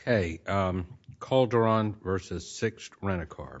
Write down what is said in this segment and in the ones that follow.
Okay, Calderon v. Six Rent-A-Car. Okay, Calderon v. Six Rent-A-Car. Okay, Calderon v. Six Rent-A-Car. Okay, Calderon v. Six Rent-A-Car.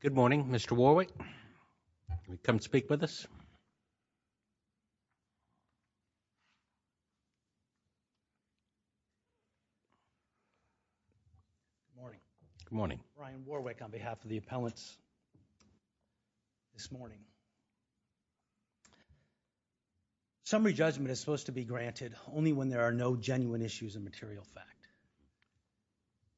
Good morning, Mr. Warwick. Can you come speak with us? Good morning. Brian Warwick on behalf of the appellants this morning. Summary judgment is supposed to be granted only when there are no genuine issues of material fact.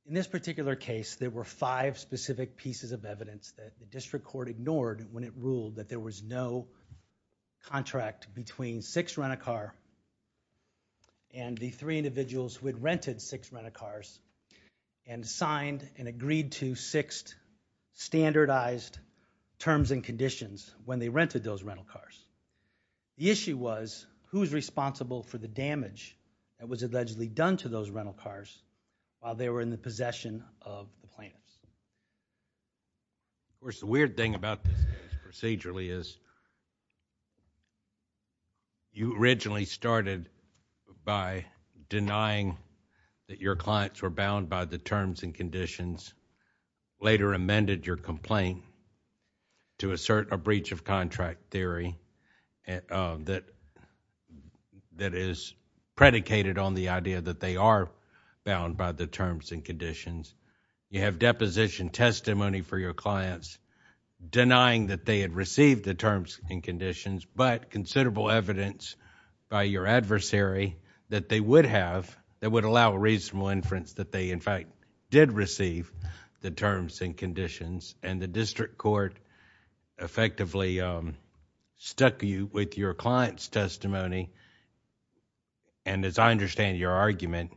In this particular case, there were five specific pieces of evidence that the district court ignored when it ruled that there was no contract between Six Rent-A-Car and the three individuals who had rented Six Rent-A-Cars and signed and agreed to six standardized terms and conditions when they rented those rental cars. The issue was who's responsible for the damage that was allegedly done to those rental cars while they were in the possession of the plaintiffs. Of course, the weird thing about this case procedurally is you originally started by denying that your clients were bound by the terms and conditions, later amended your complaint to assert a breach of contract theory that is predicated on the idea that they are bound by the terms and conditions. You have deposition testimony for your clients denying that they had received the terms and conditions but considerable evidence by your adversary that they would have, that would allow a reasonable inference that they in fact did receive the terms and conditions and the district court effectively stuck you with your client's testimony. As I understand your argument,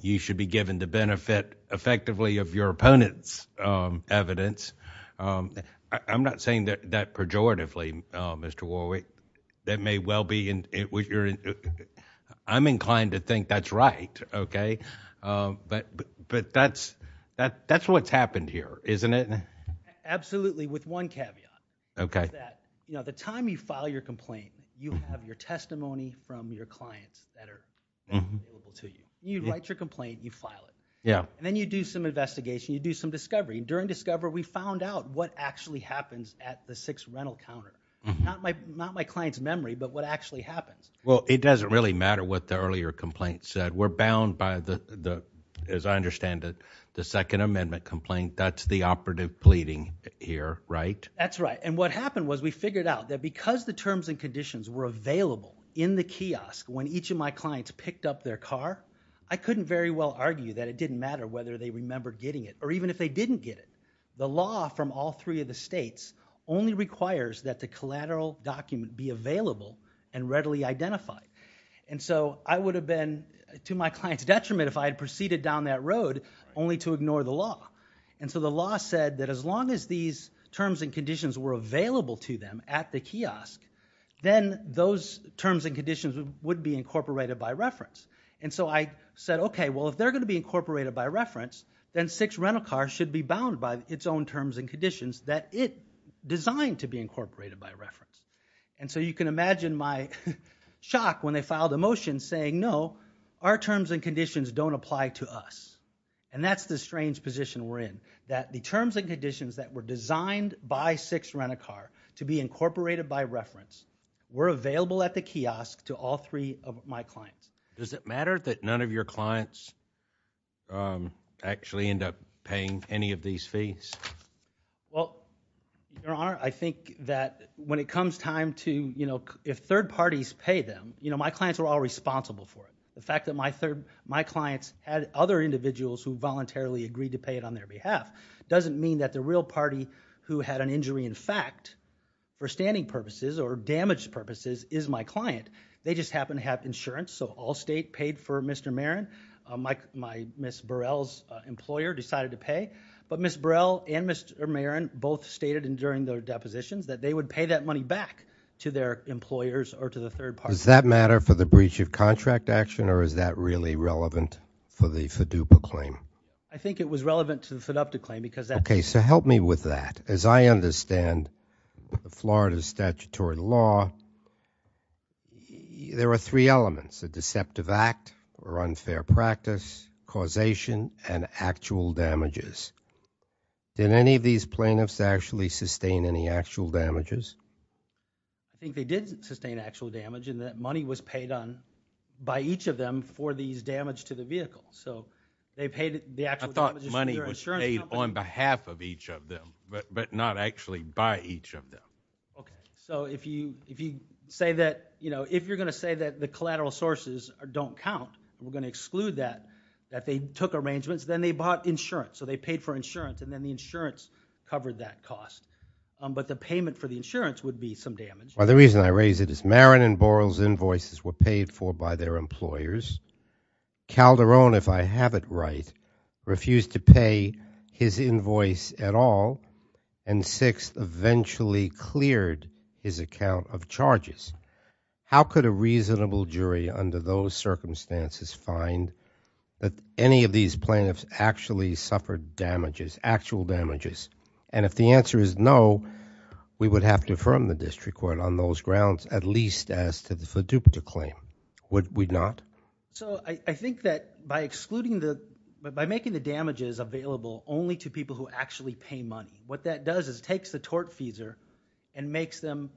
you should be given the benefit effectively of your opponent's evidence. I'm not saying that pejoratively, Mr. Warwick. I'm inclined to think that's right, but that's what's happened here, isn't it? Absolutely, with one caveat. The time you file your complaint, you have your testimony from your clients that are available to you. You write your complaint, you file it. Then you do some investigation, you do some discovery. During discovery, we found out what actually happens at the sixth rental counter. Not my client's memory, but what actually happens. It doesn't really matter what the earlier complaint said. We're bound by, as I understand it, the second amendment complaint. That's the operative pleading here, right? That's right. What happened was we figured out that because the terms and conditions were available in the kiosk when each of my clients picked up their car, I couldn't very well argue that it didn't matter whether they remember getting it or even if they didn't get it. The law from all three of the states only requires that the collateral document be available and readily identified. I would have been to my client's detriment if I had proceeded down that road only to ignore the law. The law said that as long as these terms and conditions were available to them at the kiosk, then those terms and conditions would be incorporated by reference. I said, okay, well, if they're going to be incorporated by reference, then sixth rental car should be bound by its own terms and conditions that it designed to be incorporated by reference. You can imagine my shock when they filed a motion saying, no, our terms and conditions don't apply to us. And that's the strange position we're in, that the terms and conditions that were designed by sixth rental car to be incorporated by reference were available at the kiosk to all three of my clients. Does it matter that none of your clients actually end up paying any of these fees? Well, Your Honor, I think that when it comes time to, you know, if third parties pay them, you know, my clients are all responsible for it. The fact that my clients had other individuals who voluntarily agreed to pay it on their behalf doesn't mean that the real party who had an injury in fact, for standing purposes or damage purposes, is my client. They just happen to have insurance, so Allstate paid for Mr. Marron. My Ms. Burrell's employer decided to pay. But Ms. Burrell and Mr. Marron both stated during their depositions that they would pay that money back to their employers or to the third party. Does that matter for the breach of contract action or is that really relevant for the FDUPA claim? I think it was relevant to the FDUPA claim because that's... Okay, so help me with that. As I understand Florida's statutory law, there are three elements, a deceptive act or unfair practice, causation, and actual damages. Did any of these plaintiffs actually sustain any actual damages? I think they did sustain actual damage and that money was paid on by each of them for these damage to the vehicle. So they paid the actual damages to their insurance company. I thought money was paid on behalf of each of them, but not actually by each of them. Okay, so if you say that, you know, if you're going to say that the collateral sources don't count, we're going to exclude that, that they took arrangements, then they bought insurance. So they paid for insurance and then the insurance covered that cost. But the payment for the insurance would be some damage. Well, the reason I raise it is Marin and Borrell's invoices were paid for by their employers. Calderon, if I have it right, refused to pay his invoice at all, and Sixth eventually cleared his account of charges. How could a reasonable jury under those circumstances find that any of these plaintiffs actually suffered damages, actual damages? And if the answer is no, we would have to affirm the district court on those grounds, at least as to the FDUPA claim. Would we not? So I think that by excluding the, by making the damages available only to people who actually pay money, what that does is takes the tortfeasor and makes them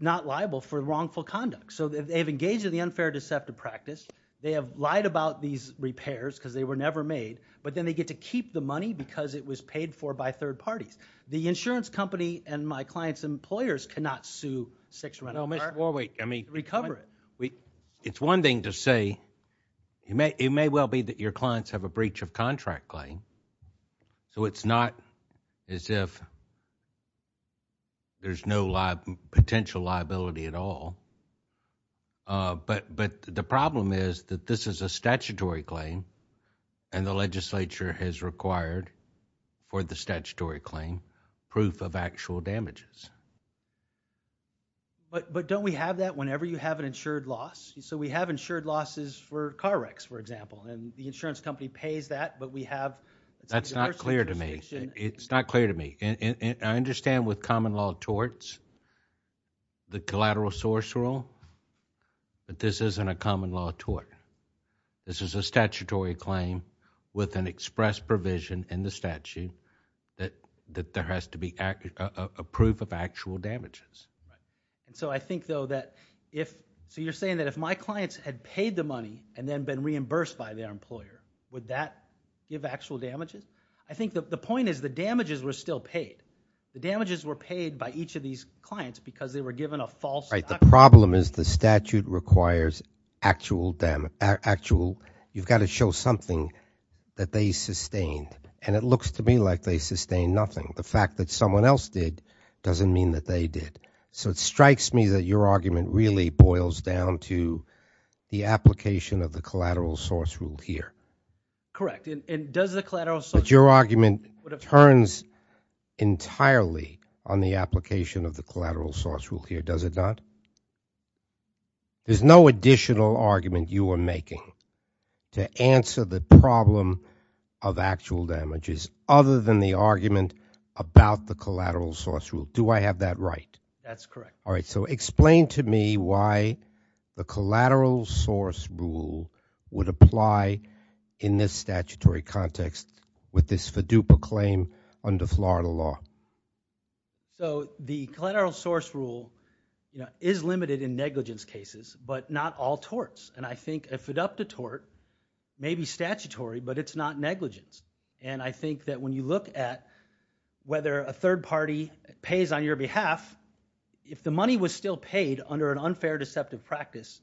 not liable for wrongful conduct. So they have engaged in the unfair deceptive practice. They have lied about these repairs because they were never made, but then they get to keep the money because it was paid for by third parties. The insurance company and my client's employers cannot sue Sixth Rental. No, Mr. Warwick, I mean. Recover it. It's one thing to say it may well be that your clients have a breach of contract claim. So it's not as if there's no potential liability at all. But the problem is that this is a statutory claim, and the legislature has required for the statutory claim proof of actual damages. But don't we have that whenever you have an insured loss? So we have insured losses for car wrecks, for example, and the insurance company pays that, but we have. That's not clear to me. It's not clear to me. I understand with common law torts, the collateral source rule, that this isn't a common law tort. This is a statutory claim with an express provision in the statute that there has to be a proof of actual damages. So I think, though, that if... So you're saying that if my clients had paid the money and then been reimbursed by their employer, would that give actual damages? I think the point is the damages were still paid. The damages were paid by each of these clients because they were given a false document. The problem is the statute requires actual damage. You've got to show something that they sustained, and it looks to me like they sustained nothing. The fact that someone else did doesn't mean that they did. So it strikes me that your argument really boils down to the application of the collateral source rule here. Correct. And does the collateral source rule... But your argument turns entirely on the application of the collateral source rule here, does it not? There's no additional argument you are making to answer the problem of actual damages other than the argument about the collateral source rule. Do I have that right? That's correct. All right, so explain to me why the collateral source rule would apply in this statutory context with this FDUPA claim under Florida law. So the collateral source rule is limited in negligence cases, but not all torts. I think a FDUPA tort may be statutory, but it's not negligence. I think that when you look at whether a third party pays on your behalf, if the money was still paid under an unfair deceptive practice,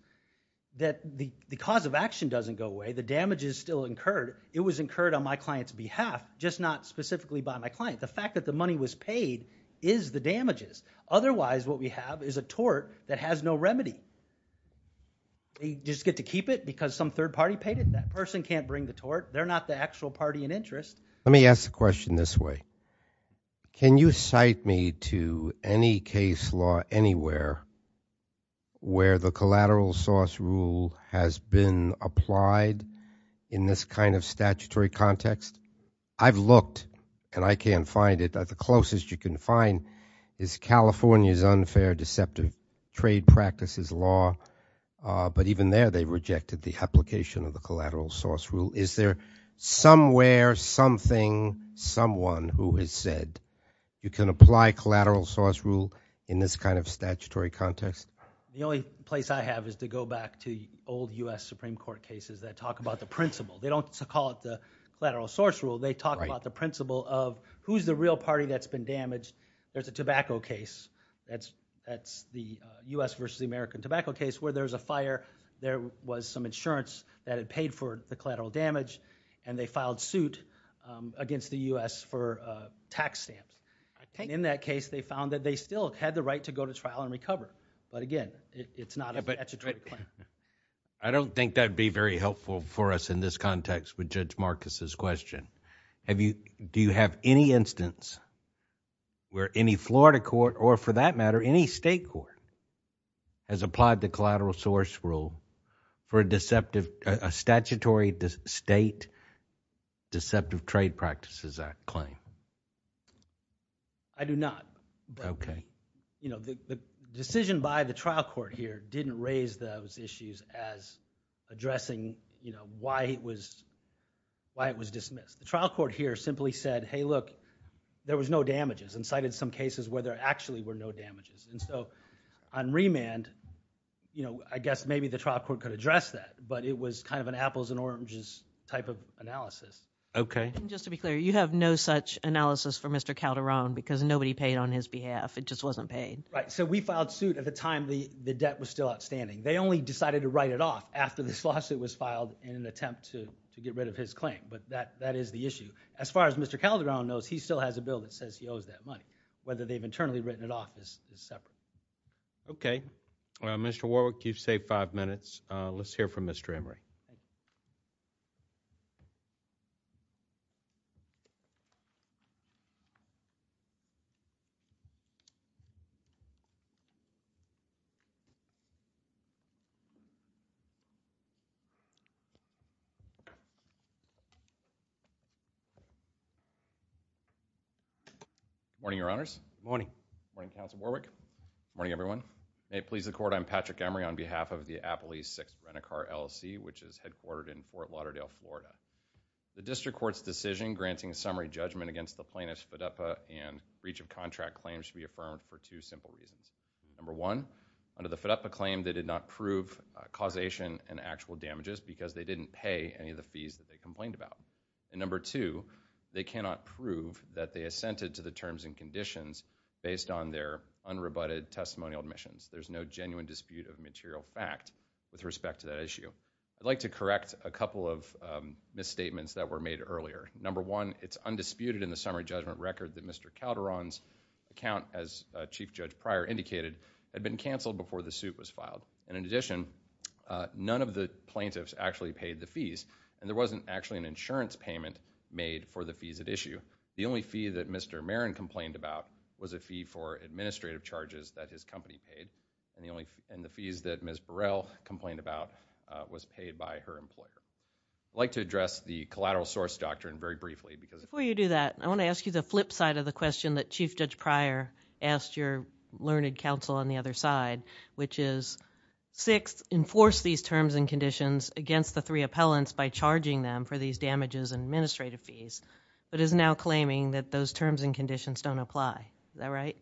that the cause of action doesn't go away, the damage is still incurred. It was incurred on my client's behalf, just not specifically by my client. The fact that the money was paid is the damages. Otherwise, what we have is a tort that has no remedy. You just get to keep it because some third party paid it. That person can't bring the tort. They're not the actual party in interest. Let me ask the question this way. Can you cite me to any case law anywhere where the collateral source rule has been applied in this kind of statutory context? I've looked, and I can't find it. The closest you can find is California's unfair deceptive trade practices law, but even there they rejected the application of the collateral source rule. Is there somewhere, something, someone who has said you can apply collateral source rule in this kind of statutory context? The only place I have is to go back to old U.S. Supreme Court cases that talk about the principle. They don't call it the collateral source rule. They talk about the principle of who's the real party that's been damaged. There's a tobacco case. That's the U.S. versus the American tobacco case where there's a fire. There was some insurance that had paid for the collateral damage, and they filed suit against the U.S. for a tax stamp. In that case, they found that they still had the right to go to trial and recover, but again, it's not a statutory claim. I don't think that would be very helpful for us in this context with Judge Marcus's question. Do you have any instance where any Florida court, or for that matter, any state court, has applied the collateral source rule for a statutory state deceptive trade practices claim? I do not. Okay. The decision by the trial court here didn't raise those issues as addressing why it was dismissed. The trial court here simply said, hey, look, there was no damages, and cited some cases where there actually were no damages. So on remand, I guess maybe the trial court could address that, but it was kind of an apples and oranges type of analysis. Okay. And just to be clear, you have no such analysis for Mr. Calderon because nobody paid on his behalf. It just wasn't paid. Right. So we filed suit at the time the debt was still outstanding. They only decided to write it off after this lawsuit was filed in an attempt to get rid of his claim, but that is the issue. As far as Mr. Calderon knows, he still has a bill that says he owes that money. Whether they've internally written it off is separate. Okay. Well, Mr. Warwick, you've saved five minutes. Let's hear from Mr. Emery. Morning, Your Honors. Morning. Morning, Counsel Warwick. May it please the Court. I'm Patrick Emery on behalf of the Appalachia 6th Rent-A-Car LLC, which is headquartered in Fort Lauderdale, Florida. The district court's decision granting a summary judgment against the plaintiff's FDUPA and breach of contract claims to be affirmed for two simple reasons. Number one, under the FDUPA claim, they did not prove causation and actual damages because they didn't pay any of the fees that they complained about. And number two, they cannot prove that they assented to the terms and conditions based on their unrebutted testimonial admissions. There's no genuine dispute of material fact with respect to that issue. I'd like to correct a couple of misstatements that were made earlier. Number one, it's undisputed in the summary judgment record that Mr. Calderon's account, as Chief Judge Pryor indicated, had been canceled before the suit was filed. And in addition, none of the plaintiffs actually paid the fees, and there wasn't actually an insurance payment made for the fees at issue. The only fee that Mr. Marin complained about was a fee for administrative charges that his company paid, and the fees that Ms. Burrell complained about was paid by her employer. I'd like to address the collateral source doctrine very briefly. Before you do that, I want to ask you the flip side of the question that Chief Judge Pryor asked your learned counsel on the other side, which is, sixth, enforce these terms and conditions against the three appellants by charging them for these damages and administrative fees, but is now claiming that those terms and conditions don't apply. Is that right?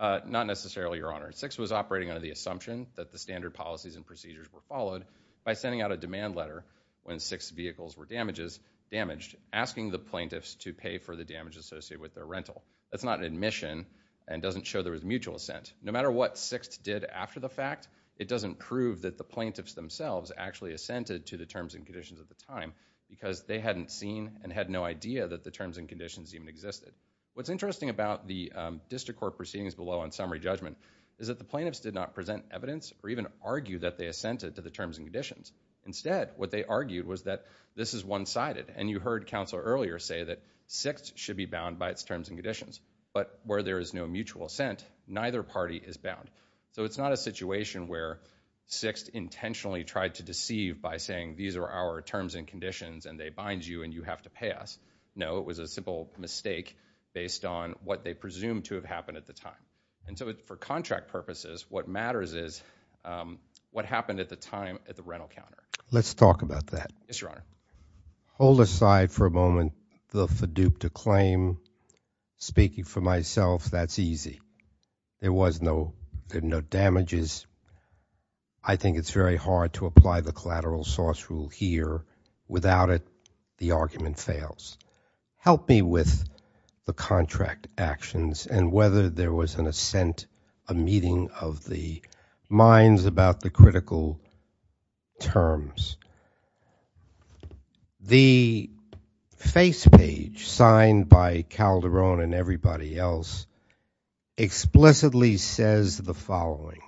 Not necessarily, Your Honor. Sixth was operating under the assumption that the standard policies and procedures were followed by sending out a demand letter when six vehicles were damaged, asking the plaintiffs to pay for the damage associated with their rental. That's not an admission and doesn't show there was mutual assent. No matter what sixth did after the fact, it doesn't prove that the plaintiffs themselves actually assented to the terms and conditions at the time because they hadn't seen and had no idea that the terms and conditions even existed. What's interesting about the district court proceedings below on summary judgment is that the plaintiffs did not present evidence or even argue that they assented to the terms and conditions. Instead, what they argued was that this is one-sided, and you heard counsel earlier say that sixth should be bound by its terms and conditions, but where there is no mutual assent, neither party is bound. So it's not a situation where sixth intentionally tried to deceive by saying these are our terms and conditions, and they bind you, and you have to pay us. No, it was a simple mistake based on what they presumed to have happened at the time. And so for contract purposes, what matters is what happened at the time at the rental counter. Let's talk about that. Yes, Your Honor. Hold aside for a moment the FADUPA claim. Speaking for myself, that's easy. There was no damages. I think it's very hard to apply the collateral source rule here. Without it, the argument fails. Help me with the contract actions and whether there was an assent, a meeting of the minds about the critical terms. The face page signed by Calderon and everybody else explicitly says the following.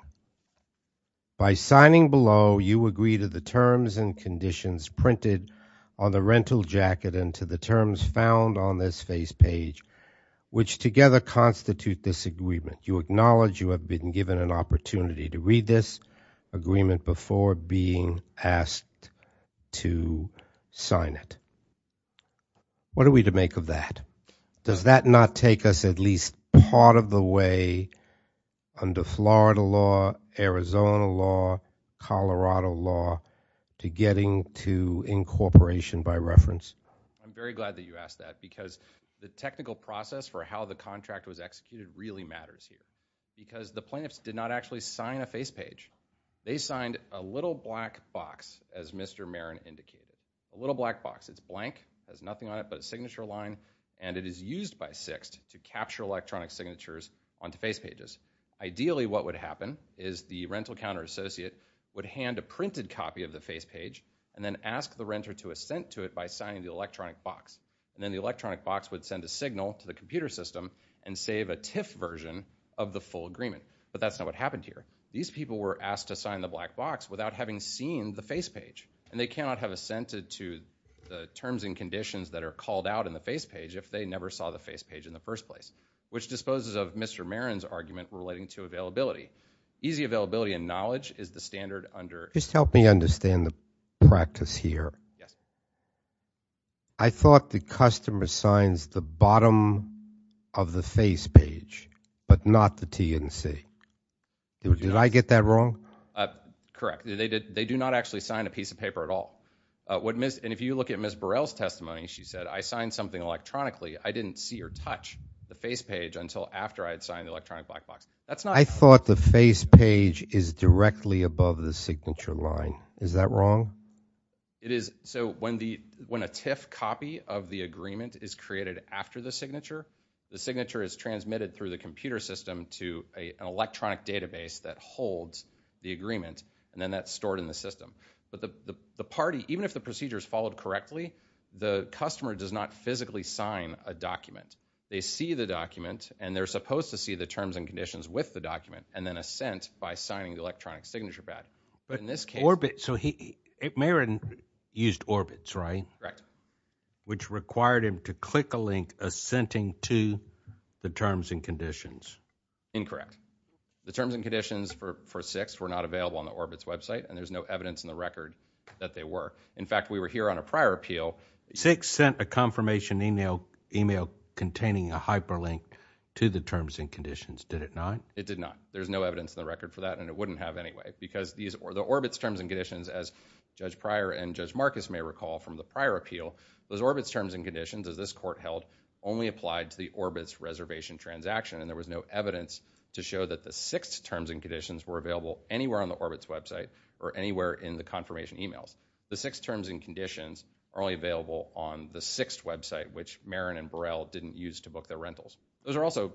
By signing below, you agree to the terms and conditions printed on the rental jacket and to the terms found on this face page, which together constitute this agreement. You acknowledge you have been given an opportunity to read this agreement before being asked to sign it. What are we to make of that? Does that not take us at least part of the way under Florida law, Arizona law, Colorado law, to getting to incorporation by reference? I'm very glad that you asked that because the technical process for how the contract was executed really matters here because the plaintiffs did not actually sign a face page. They signed a little black box, as Mr. Marin indicated. A little black box. It's blank, has nothing on it but a signature line, and it is used by Sixt to capture electronic signatures onto face pages. Ideally, what would happen is the rental counter associate would hand a printed copy of the face page and then ask the renter to assent to it by signing the electronic box. Then the electronic box would send a signal to the computer system and save a TIF version of the full agreement, but that's not what happened here. These people were asked to sign the black box without having seen the face page, and they cannot have assented to the terms and conditions that are called out in the face page if they never saw the face page in the first place, which disposes of Mr. Marin's argument relating to availability. Easy availability and knowledge is the standard under— Just help me understand the practice here. Yes. I thought the customer signs the bottom of the face page but not the TNC. Did I get that wrong? Correct. They do not actually sign a piece of paper at all. And if you look at Ms. Burrell's testimony, she said, I signed something electronically, I didn't see or touch the face page until after I had signed the electronic black box. I thought the face page is directly above the signature line. Is that wrong? It is. So when a TIF copy of the agreement is created after the signature, the signature is transmitted through the computer system to an electronic database that holds the agreement, and then that's stored in the system. But the party, even if the procedure is followed correctly, the customer does not physically sign a document. They see the document, and they're supposed to see the terms and conditions with the document and then assent by signing the electronic signature pad. But in this case... Orbit. So Meriden used Orbit, right? Correct. Which required him to click a link assenting to the terms and conditions. Incorrect. The terms and conditions for 6 were not available on the Orbit's website, and there's no evidence in the record that they were. In fact, we were here on a prior appeal. 6 sent a confirmation email containing a hyperlink to the terms and conditions, did it not? It did not. There's no evidence in the record for that, and it wouldn't have anyway because the Orbit's terms and conditions, as Judge Pryor and Judge Marcus may recall from the prior appeal, those Orbit's terms and conditions, as this court held, only applied to the Orbit's reservation transaction, and there was no evidence to show that the 6 terms and conditions were available anywhere on the Orbit's website or anywhere in the confirmation emails. The 6 terms and conditions are only available on the 6th website, which Meriden and Burrell didn't use to book their rentals. Those are also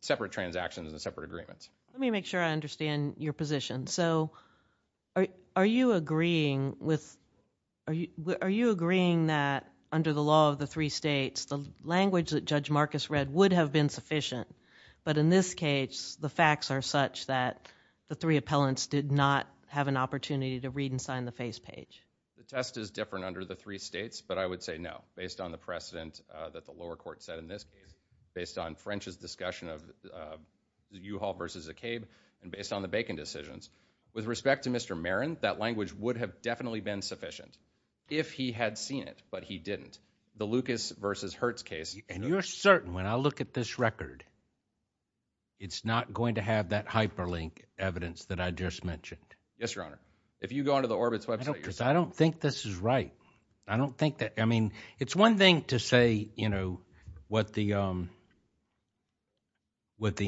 separate transactions and separate agreements. Let me make sure I understand your position. So are you agreeing that under the law of the 3 states, the language that Judge Marcus read would have been sufficient, but in this case the facts are such that the 3 appellants did not have an opportunity to read and sign the face page? The test is different under the 3 states, but I would say no. Based on the precedent that the lower court set in this case, based on French's discussion of U-Haul versus Acabe, and based on the Bacon decisions, with respect to Mr. Meriden, that language would have definitely been sufficient, if he had seen it, but he didn't. The Lucas versus Hertz case... And you're certain when I look at this record, it's not going to have that hyperlink evidence that I just mentioned? Yes, Your Honor. If you go onto the Orbit's website... Because I don't think this is right. I don't think that... I mean, it's one thing to say what the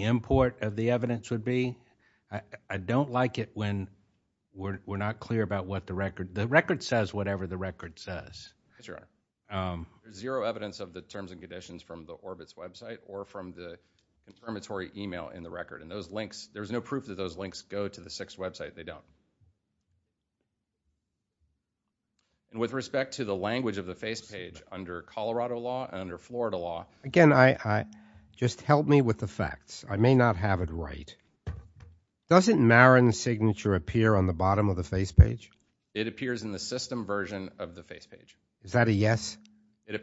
import of the evidence would be. I don't like it when we're not clear about what the record... The record says whatever the record says. Yes, Your Honor. There's zero evidence of the terms and conditions from the Orbit's website or from the confirmatory email in the record, and there's no proof that those links go to the 6th website. They don't. And with respect to the language of the face page, under Colorado law and under Florida law... Again, just help me with the facts. I may not have it right. Doesn't Meriden's signature appear on the bottom of the face page? It appears in the system version of the face page. Is that a yes? It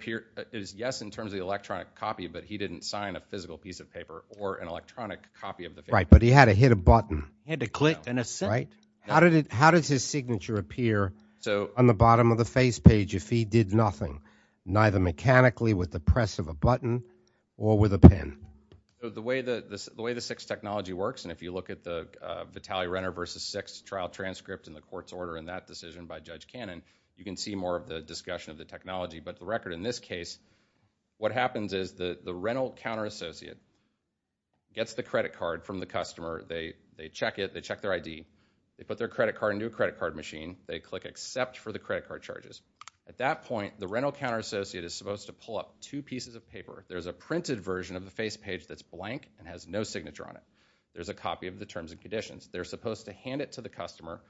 is yes in terms of the electronic copy, but he didn't sign a physical piece of paper or an electronic copy of the face page. Right, but he had to hit a button. How does his signature appear on the bottom of the face page if he did nothing, neither mechanically with the press of a button or with a pen? The way the 6th technology works, and if you look at the Vitale-Renner v. 6th trial transcript and the court's order in that decision by Judge Cannon, you can see more of the discussion of the technology. But the record in this case, what happens is the rental counter-associate gets the credit card from the customer. They check it. They check their ID. They put their credit card into a credit card machine. They click Accept for the credit card charges. At that point, the rental counter-associate is supposed to pull up two pieces of paper. There's a printed version of the face page that's blank and has no signature on it. There's a copy of the terms and conditions. They're supposed to hand it to the customer,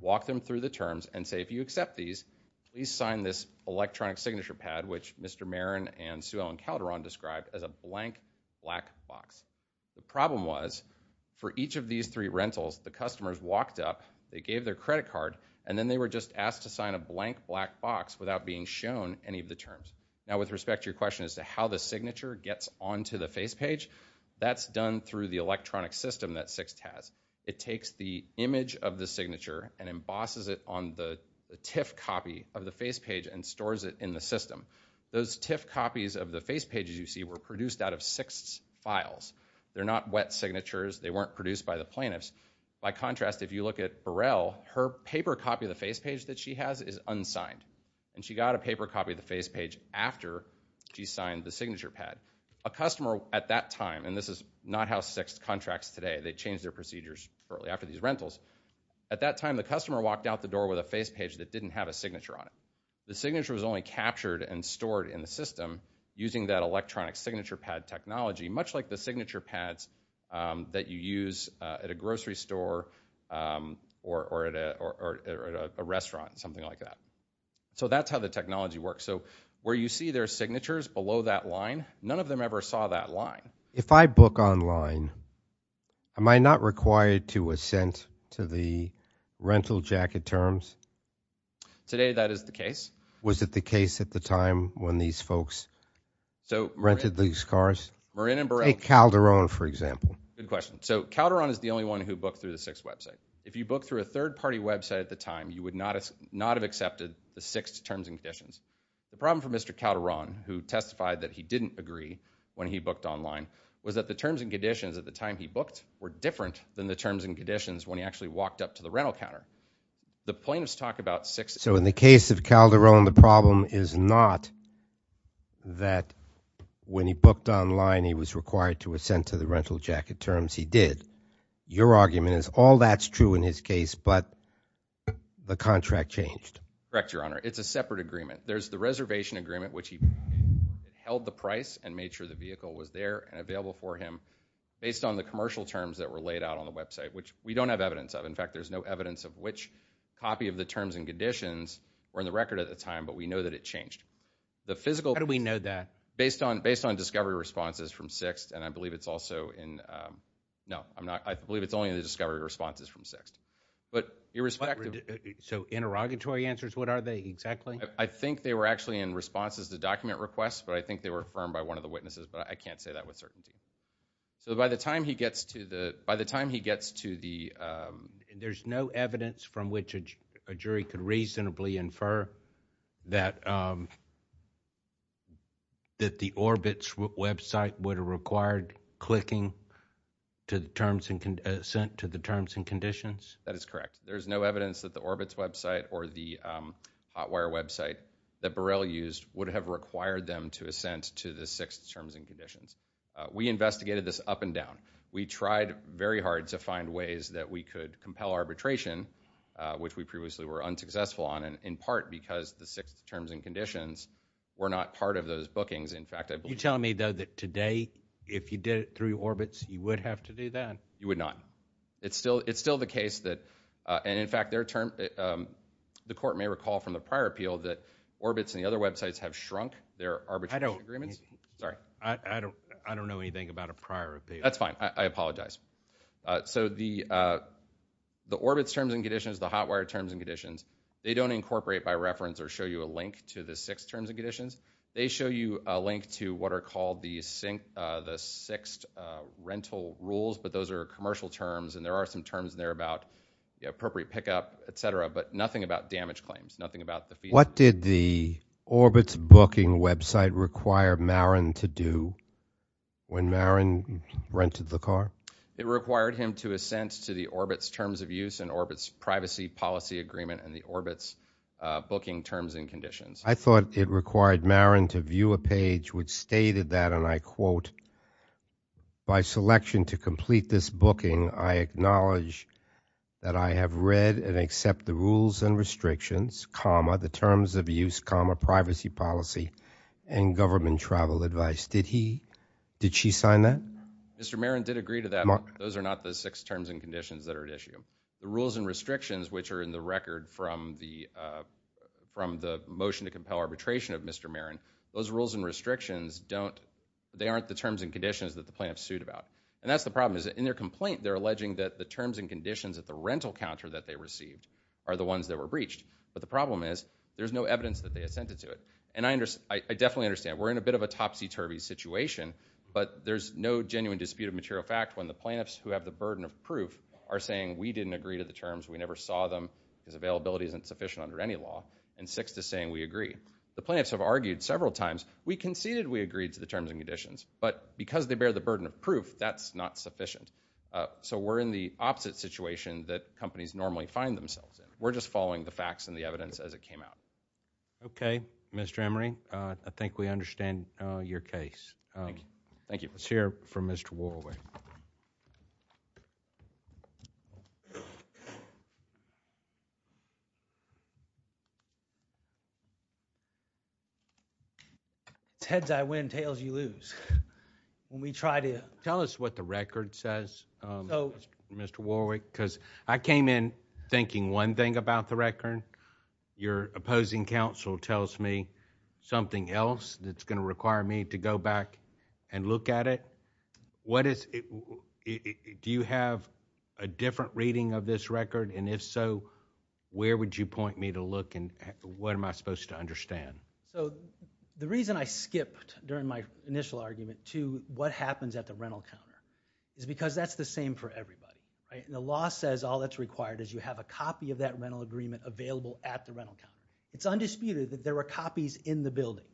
walk them through the terms, and say, if you accept these, please sign this electronic signature pad, which Mr. Meriden and Sue Ellen Calderon described as a blank, black box. The problem was, for each of these three rentals, the customers walked up, they gave their credit card, and then they were just asked to sign a blank, black box without being shown any of the terms. Now, with respect to your question as to how the signature gets onto the face page, that's done through the electronic system that 6th has. It takes the image of the signature and embosses it on the TIFF copy of the face page and stores it in the system. Those TIFF copies of the face pages you see were produced out of 6th's files. They're not wet signatures. They weren't produced by the plaintiffs. By contrast, if you look at Burrell, her paper copy of the face page that she has is unsigned, and she got a paper copy of the face page after she signed the signature pad. A customer at that time, and this is not how 6th contracts today. They changed their procedures shortly after these rentals. At that time, the customer walked out the door The signature was only captured and stored in the system using that electronic signature pad technology, much like the signature pads that you use at a grocery store or at a restaurant, something like that. So that's how the technology works. So where you see their signatures below that line, none of them ever saw that line. If I book online, am I not required to assent to the rental jacket terms? Today, that is the case. Was it the case at the time when these folks rented these cars? Marin and Burrell. Calderon, for example. Good question. So Calderon is the only one who booked through the 6th website. If you booked through a third-party website at the time, you would not have accepted the 6th terms and conditions. The problem for Mr. Calderon, who testified that he didn't agree when he booked online, was that the terms and conditions at the time he booked were different than the terms and conditions when he actually walked up to the rental counter. The plaintiffs talk about 6th. So in the case of Calderon, the problem is not that when he booked online he was required to assent to the rental jacket terms. He did. Your argument is all that's true in his case, but the contract changed. Correct, Your Honor. It's a separate agreement. There's the reservation agreement, which he held the price and made sure the vehicle was there and available for him, based on the commercial terms that were laid out on the website, which we don't have evidence of. In fact, there's no evidence of which copy of the terms and conditions were in the record at the time, but we know that it changed. How do we know that? Based on discovery responses from 6th, and I believe it's also in... No, I believe it's only in the discovery responses from 6th. So interrogatory answers, what are they exactly? I think they were actually in responses to document requests, but I think they were affirmed by one of the witnesses, but I can't say that with certainty. So by the time he gets to the... There's no evidence from which a jury could reasonably infer that the Orbitz website would have required clicking to the terms and conditions? That is correct. There's no evidence that the Orbitz website or the Hotwire website that Burrell used would have required them to assent to the 6th terms and conditions. We investigated this up and down. We tried very hard to find ways that we could compel arbitration, which we previously were unsuccessful on, in part because the 6th terms and conditions were not part of those bookings. You're telling me, though, that today, if you did it through Orbitz, you would have to do that? You would not. It's still the case that... And in fact, the court may recall from the prior appeal that Orbitz and the other websites have shrunk their arbitration agreements. Sorry. I don't know anything about a prior appeal. That's fine. I apologize. So the Orbitz terms and conditions, the Hotwire terms and conditions, they don't incorporate by reference or show you a link to the 6th terms and conditions. They show you a link to what are called the 6th rental rules, but those are commercial terms, and there are some terms there about appropriate pickup, etc., but nothing about damage claims, nothing about the fee... What did the Orbitz booking website require Marin to do when Marin rented the car? It required him to assent to the Orbitz terms of use and Orbitz privacy policy agreement and the Orbitz booking terms and conditions. I thought it required Marin to view a page which stated that, and I quote, by selection to complete this booking, I acknowledge that I have read and accept the rules and restrictions, the terms of use, privacy policy, and government travel advice. Did she sign that? Mr. Marin did agree to that. Those are not the 6th terms and conditions that are at issue. The rules and restrictions, which are in the record from the motion to compel arbitration of Mr. Marin, those rules and restrictions aren't the terms and conditions that the plaintiff sued about. In their complaint, they're alleging that the terms and conditions at the rental counter that they received are the ones that were breached. But the problem is there's no evidence that they assented to it. And I definitely understand. We're in a bit of a topsy-turvy situation, but there's no genuine dispute of material fact when the plaintiffs who have the burden of proof are saying we didn't agree to the terms, we never saw them, because availability isn't sufficient under any law, and 6th is saying we agree. The plaintiffs have argued several times, we conceded we agreed to the terms and conditions, but because they bear the burden of proof, that's not sufficient. So we're in the opposite situation that companies normally find themselves in. We're just following the facts and the evidence as it came out. Okay. Mr. Emery, I think we understand your case. Thank you. Let's hear from Mr. Warwick. It's heads I win, tails you lose. Tell us what the record says, Mr. Warwick, because I came in thinking one thing about the record. Your opposing counsel tells me something else that's going to require me to go back and look at it. Do you have a different reading of this record? And if so, where would you point me to look and what am I supposed to understand? So the reason I skipped during my initial argument to what happens at the rental counter is because that's the same for everybody. The law says all that's required is you have a copy of that rental agreement available at the rental counter. It's undisputed that there were copies in the building.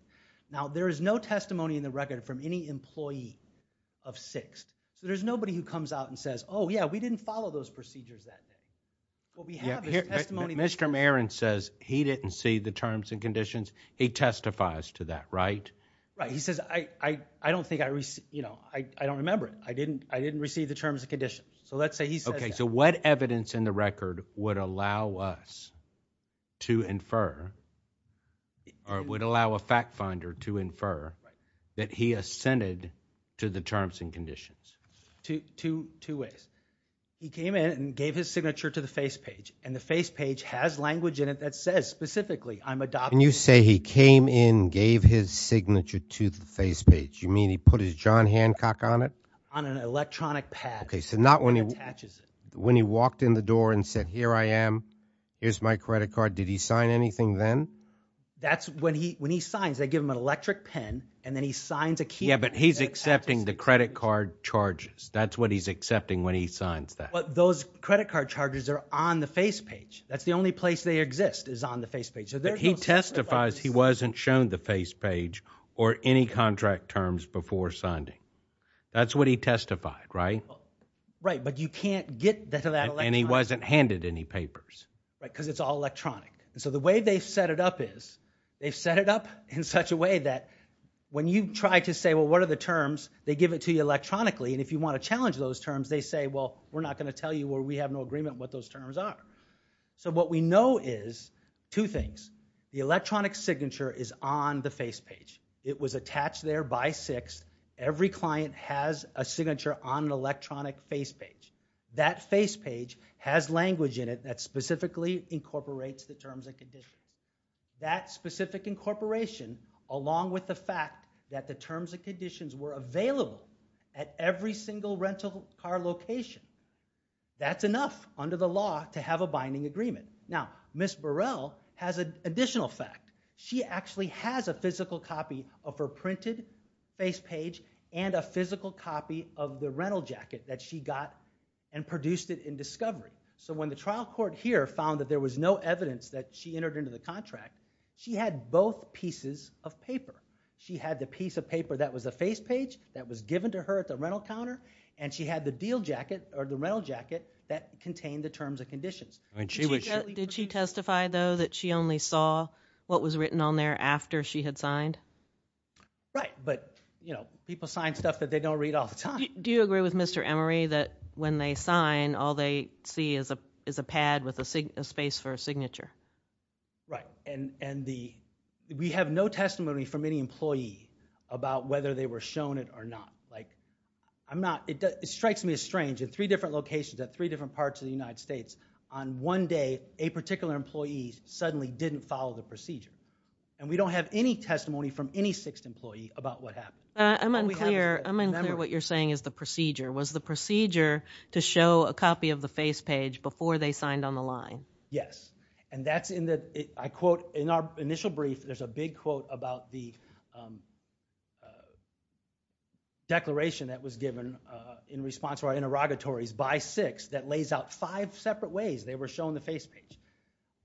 Now, there is no testimony in the record from any employee of 6th. So there's nobody who comes out and says, oh, yeah, we didn't follow those procedures that day. What we have is testimony... He testifies to that, right? Right. He says, I don't think I received... You know, I don't remember it. I didn't receive the terms and conditions. So let's say he says that. Okay, so what evidence in the record would allow us to infer, or would allow a fact finder to infer that he assented to the terms and conditions? Two ways. He came in and gave his signature to the face page, and the face page has language in it that says specifically, I'm adoptive. And you say he came in, gave his signature to the face page. You mean he put his John Hancock on it? On an electronic pad. Okay, so not when he walked in the door and said, here I am, here's my credit card. Did he sign anything then? That's when he signs, they give him an electric pen, and then he signs a key. Yeah, but he's accepting the credit card charges. That's what he's accepting when he signs that. But those credit card charges are on the face page. That's the only place they exist, is on the face page. But he testifies he wasn't shown the face page or any contract terms before signing. That's what he testified, right? Right, but you can't get to that electronically. And he wasn't handed any papers. Right, because it's all electronic. And so the way they've set it up is, they've set it up in such a way that when you try to say, well, what are the terms, they give it to you electronically, and if you want to challenge those terms, they say, well, we're not going to tell you or we have no agreement what those terms are. So what we know is two things. The electronic signature is on the face page. It was attached there by 6th. Every client has a signature on an electronic face page. That face page has language in it that specifically incorporates the terms and conditions. That specific incorporation, along with the fact that the terms and conditions were available at every single rental car location, that's enough under the law to have a binding agreement. Now, Ms. Burrell has an additional fact. She actually has a physical copy of her printed face page and a physical copy of the rental jacket that she got and produced it in discovery. So when the trial court here found that there was no evidence that she entered into the contract, she had both pieces of paper. She had the piece of paper that was the face page that was given to her at the rental counter, and she had the deal jacket or the rental jacket that contained the terms and conditions. Did she testify, though, that she only saw what was written on there after she had signed? Right, but, you know, people sign stuff that they don't read all the time. Do you agree with Mr. Emery that when they sign, all they see is a pad with a space for a signature? Right, and we have no testimony from any employee about whether they were shown it or not. Like, I'm not... it strikes me as strange. In three different locations, at three different parts of the United States, on one day, a particular employee suddenly didn't follow the procedure. And we don't have any testimony from any sixth employee about what happened. I'm unclear what you're saying is the procedure. Was the procedure to show a copy of the face page before they signed on the line? Yes, and that's in the... I quote... In our initial brief, there's a big quote about the declaration that was given in response to our interrogatories by sixth that lays out five separate ways they were shown the face page.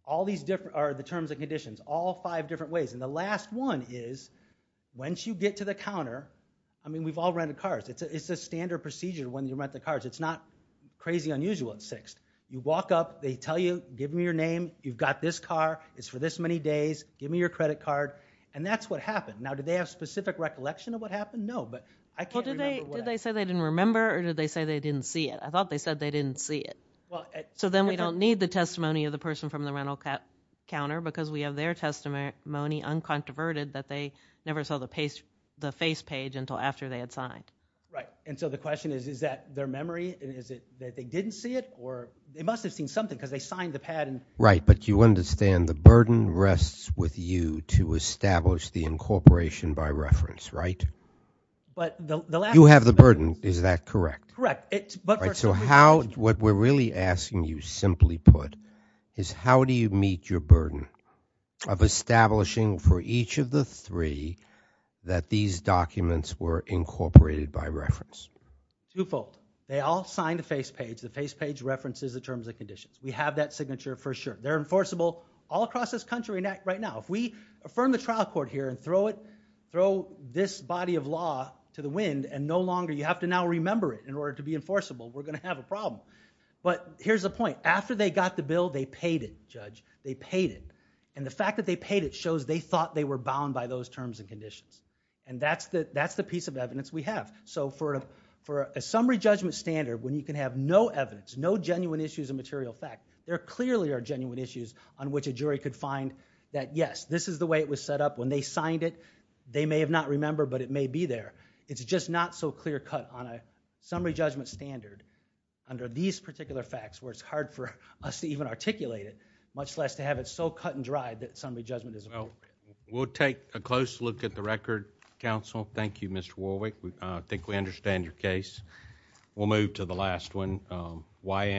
All these different... are the terms and conditions. All five different ways. And the last one is, once you get to the counter... I mean, we've all rented cars. It's a standard procedure when you rent the cars. It's not crazy unusual at sixth. You walk up, they tell you, give me your name, you've got this car, it's for this many days, give me your credit card. And that's what happened. Now, do they have specific recollection of what happened? No, but I can't remember what happened. Did they say they didn't remember or did they say they didn't see it? I thought they said they didn't see it. So then we don't need the testimony of the person from the rental counter because we have their testimony uncontroverted that they never saw the face page until after they had signed. Right, and so the question is, is that their memory? Is it that they didn't see it? They must have seen something because they signed the patent. Right, but you understand the burden rests with you to establish the incorporation by reference, right? You have the burden, is that correct? Correct. So what we're really asking you, simply put, is how do you meet your burden of establishing for each of the three that these documents were incorporated by reference? Twofold. They all signed a face page. The face page references the terms and conditions. We have that signature for sure. They're enforceable all across this country right now. If we affirm the trial court here and throw it, throw this body of law to the wind and no longer, you have to now remember it in order to be enforceable, we're gonna have a problem. But here's the point. After they got the bill, they paid it, Judge. They paid it. And the fact that they paid it shows they thought they were bound by those terms and conditions. And that's the piece of evidence we have. So for a summary judgment standard when you can have no evidence, no genuine issues of material fact, there clearly are genuine issues on which a jury could find that, yes, this is the way it was set up. When they signed it, they may have not remembered, but it may be there. It's just not so clear cut on a summary judgment standard under these particular facts where it's hard for us to even articulate it, much less to have it so cut and dry that summary judgment is a vote. We'll take a close look at the record, Counsel. Thank you, Mr. Warwick. I think we understand your case. We'll move to the last one. YM.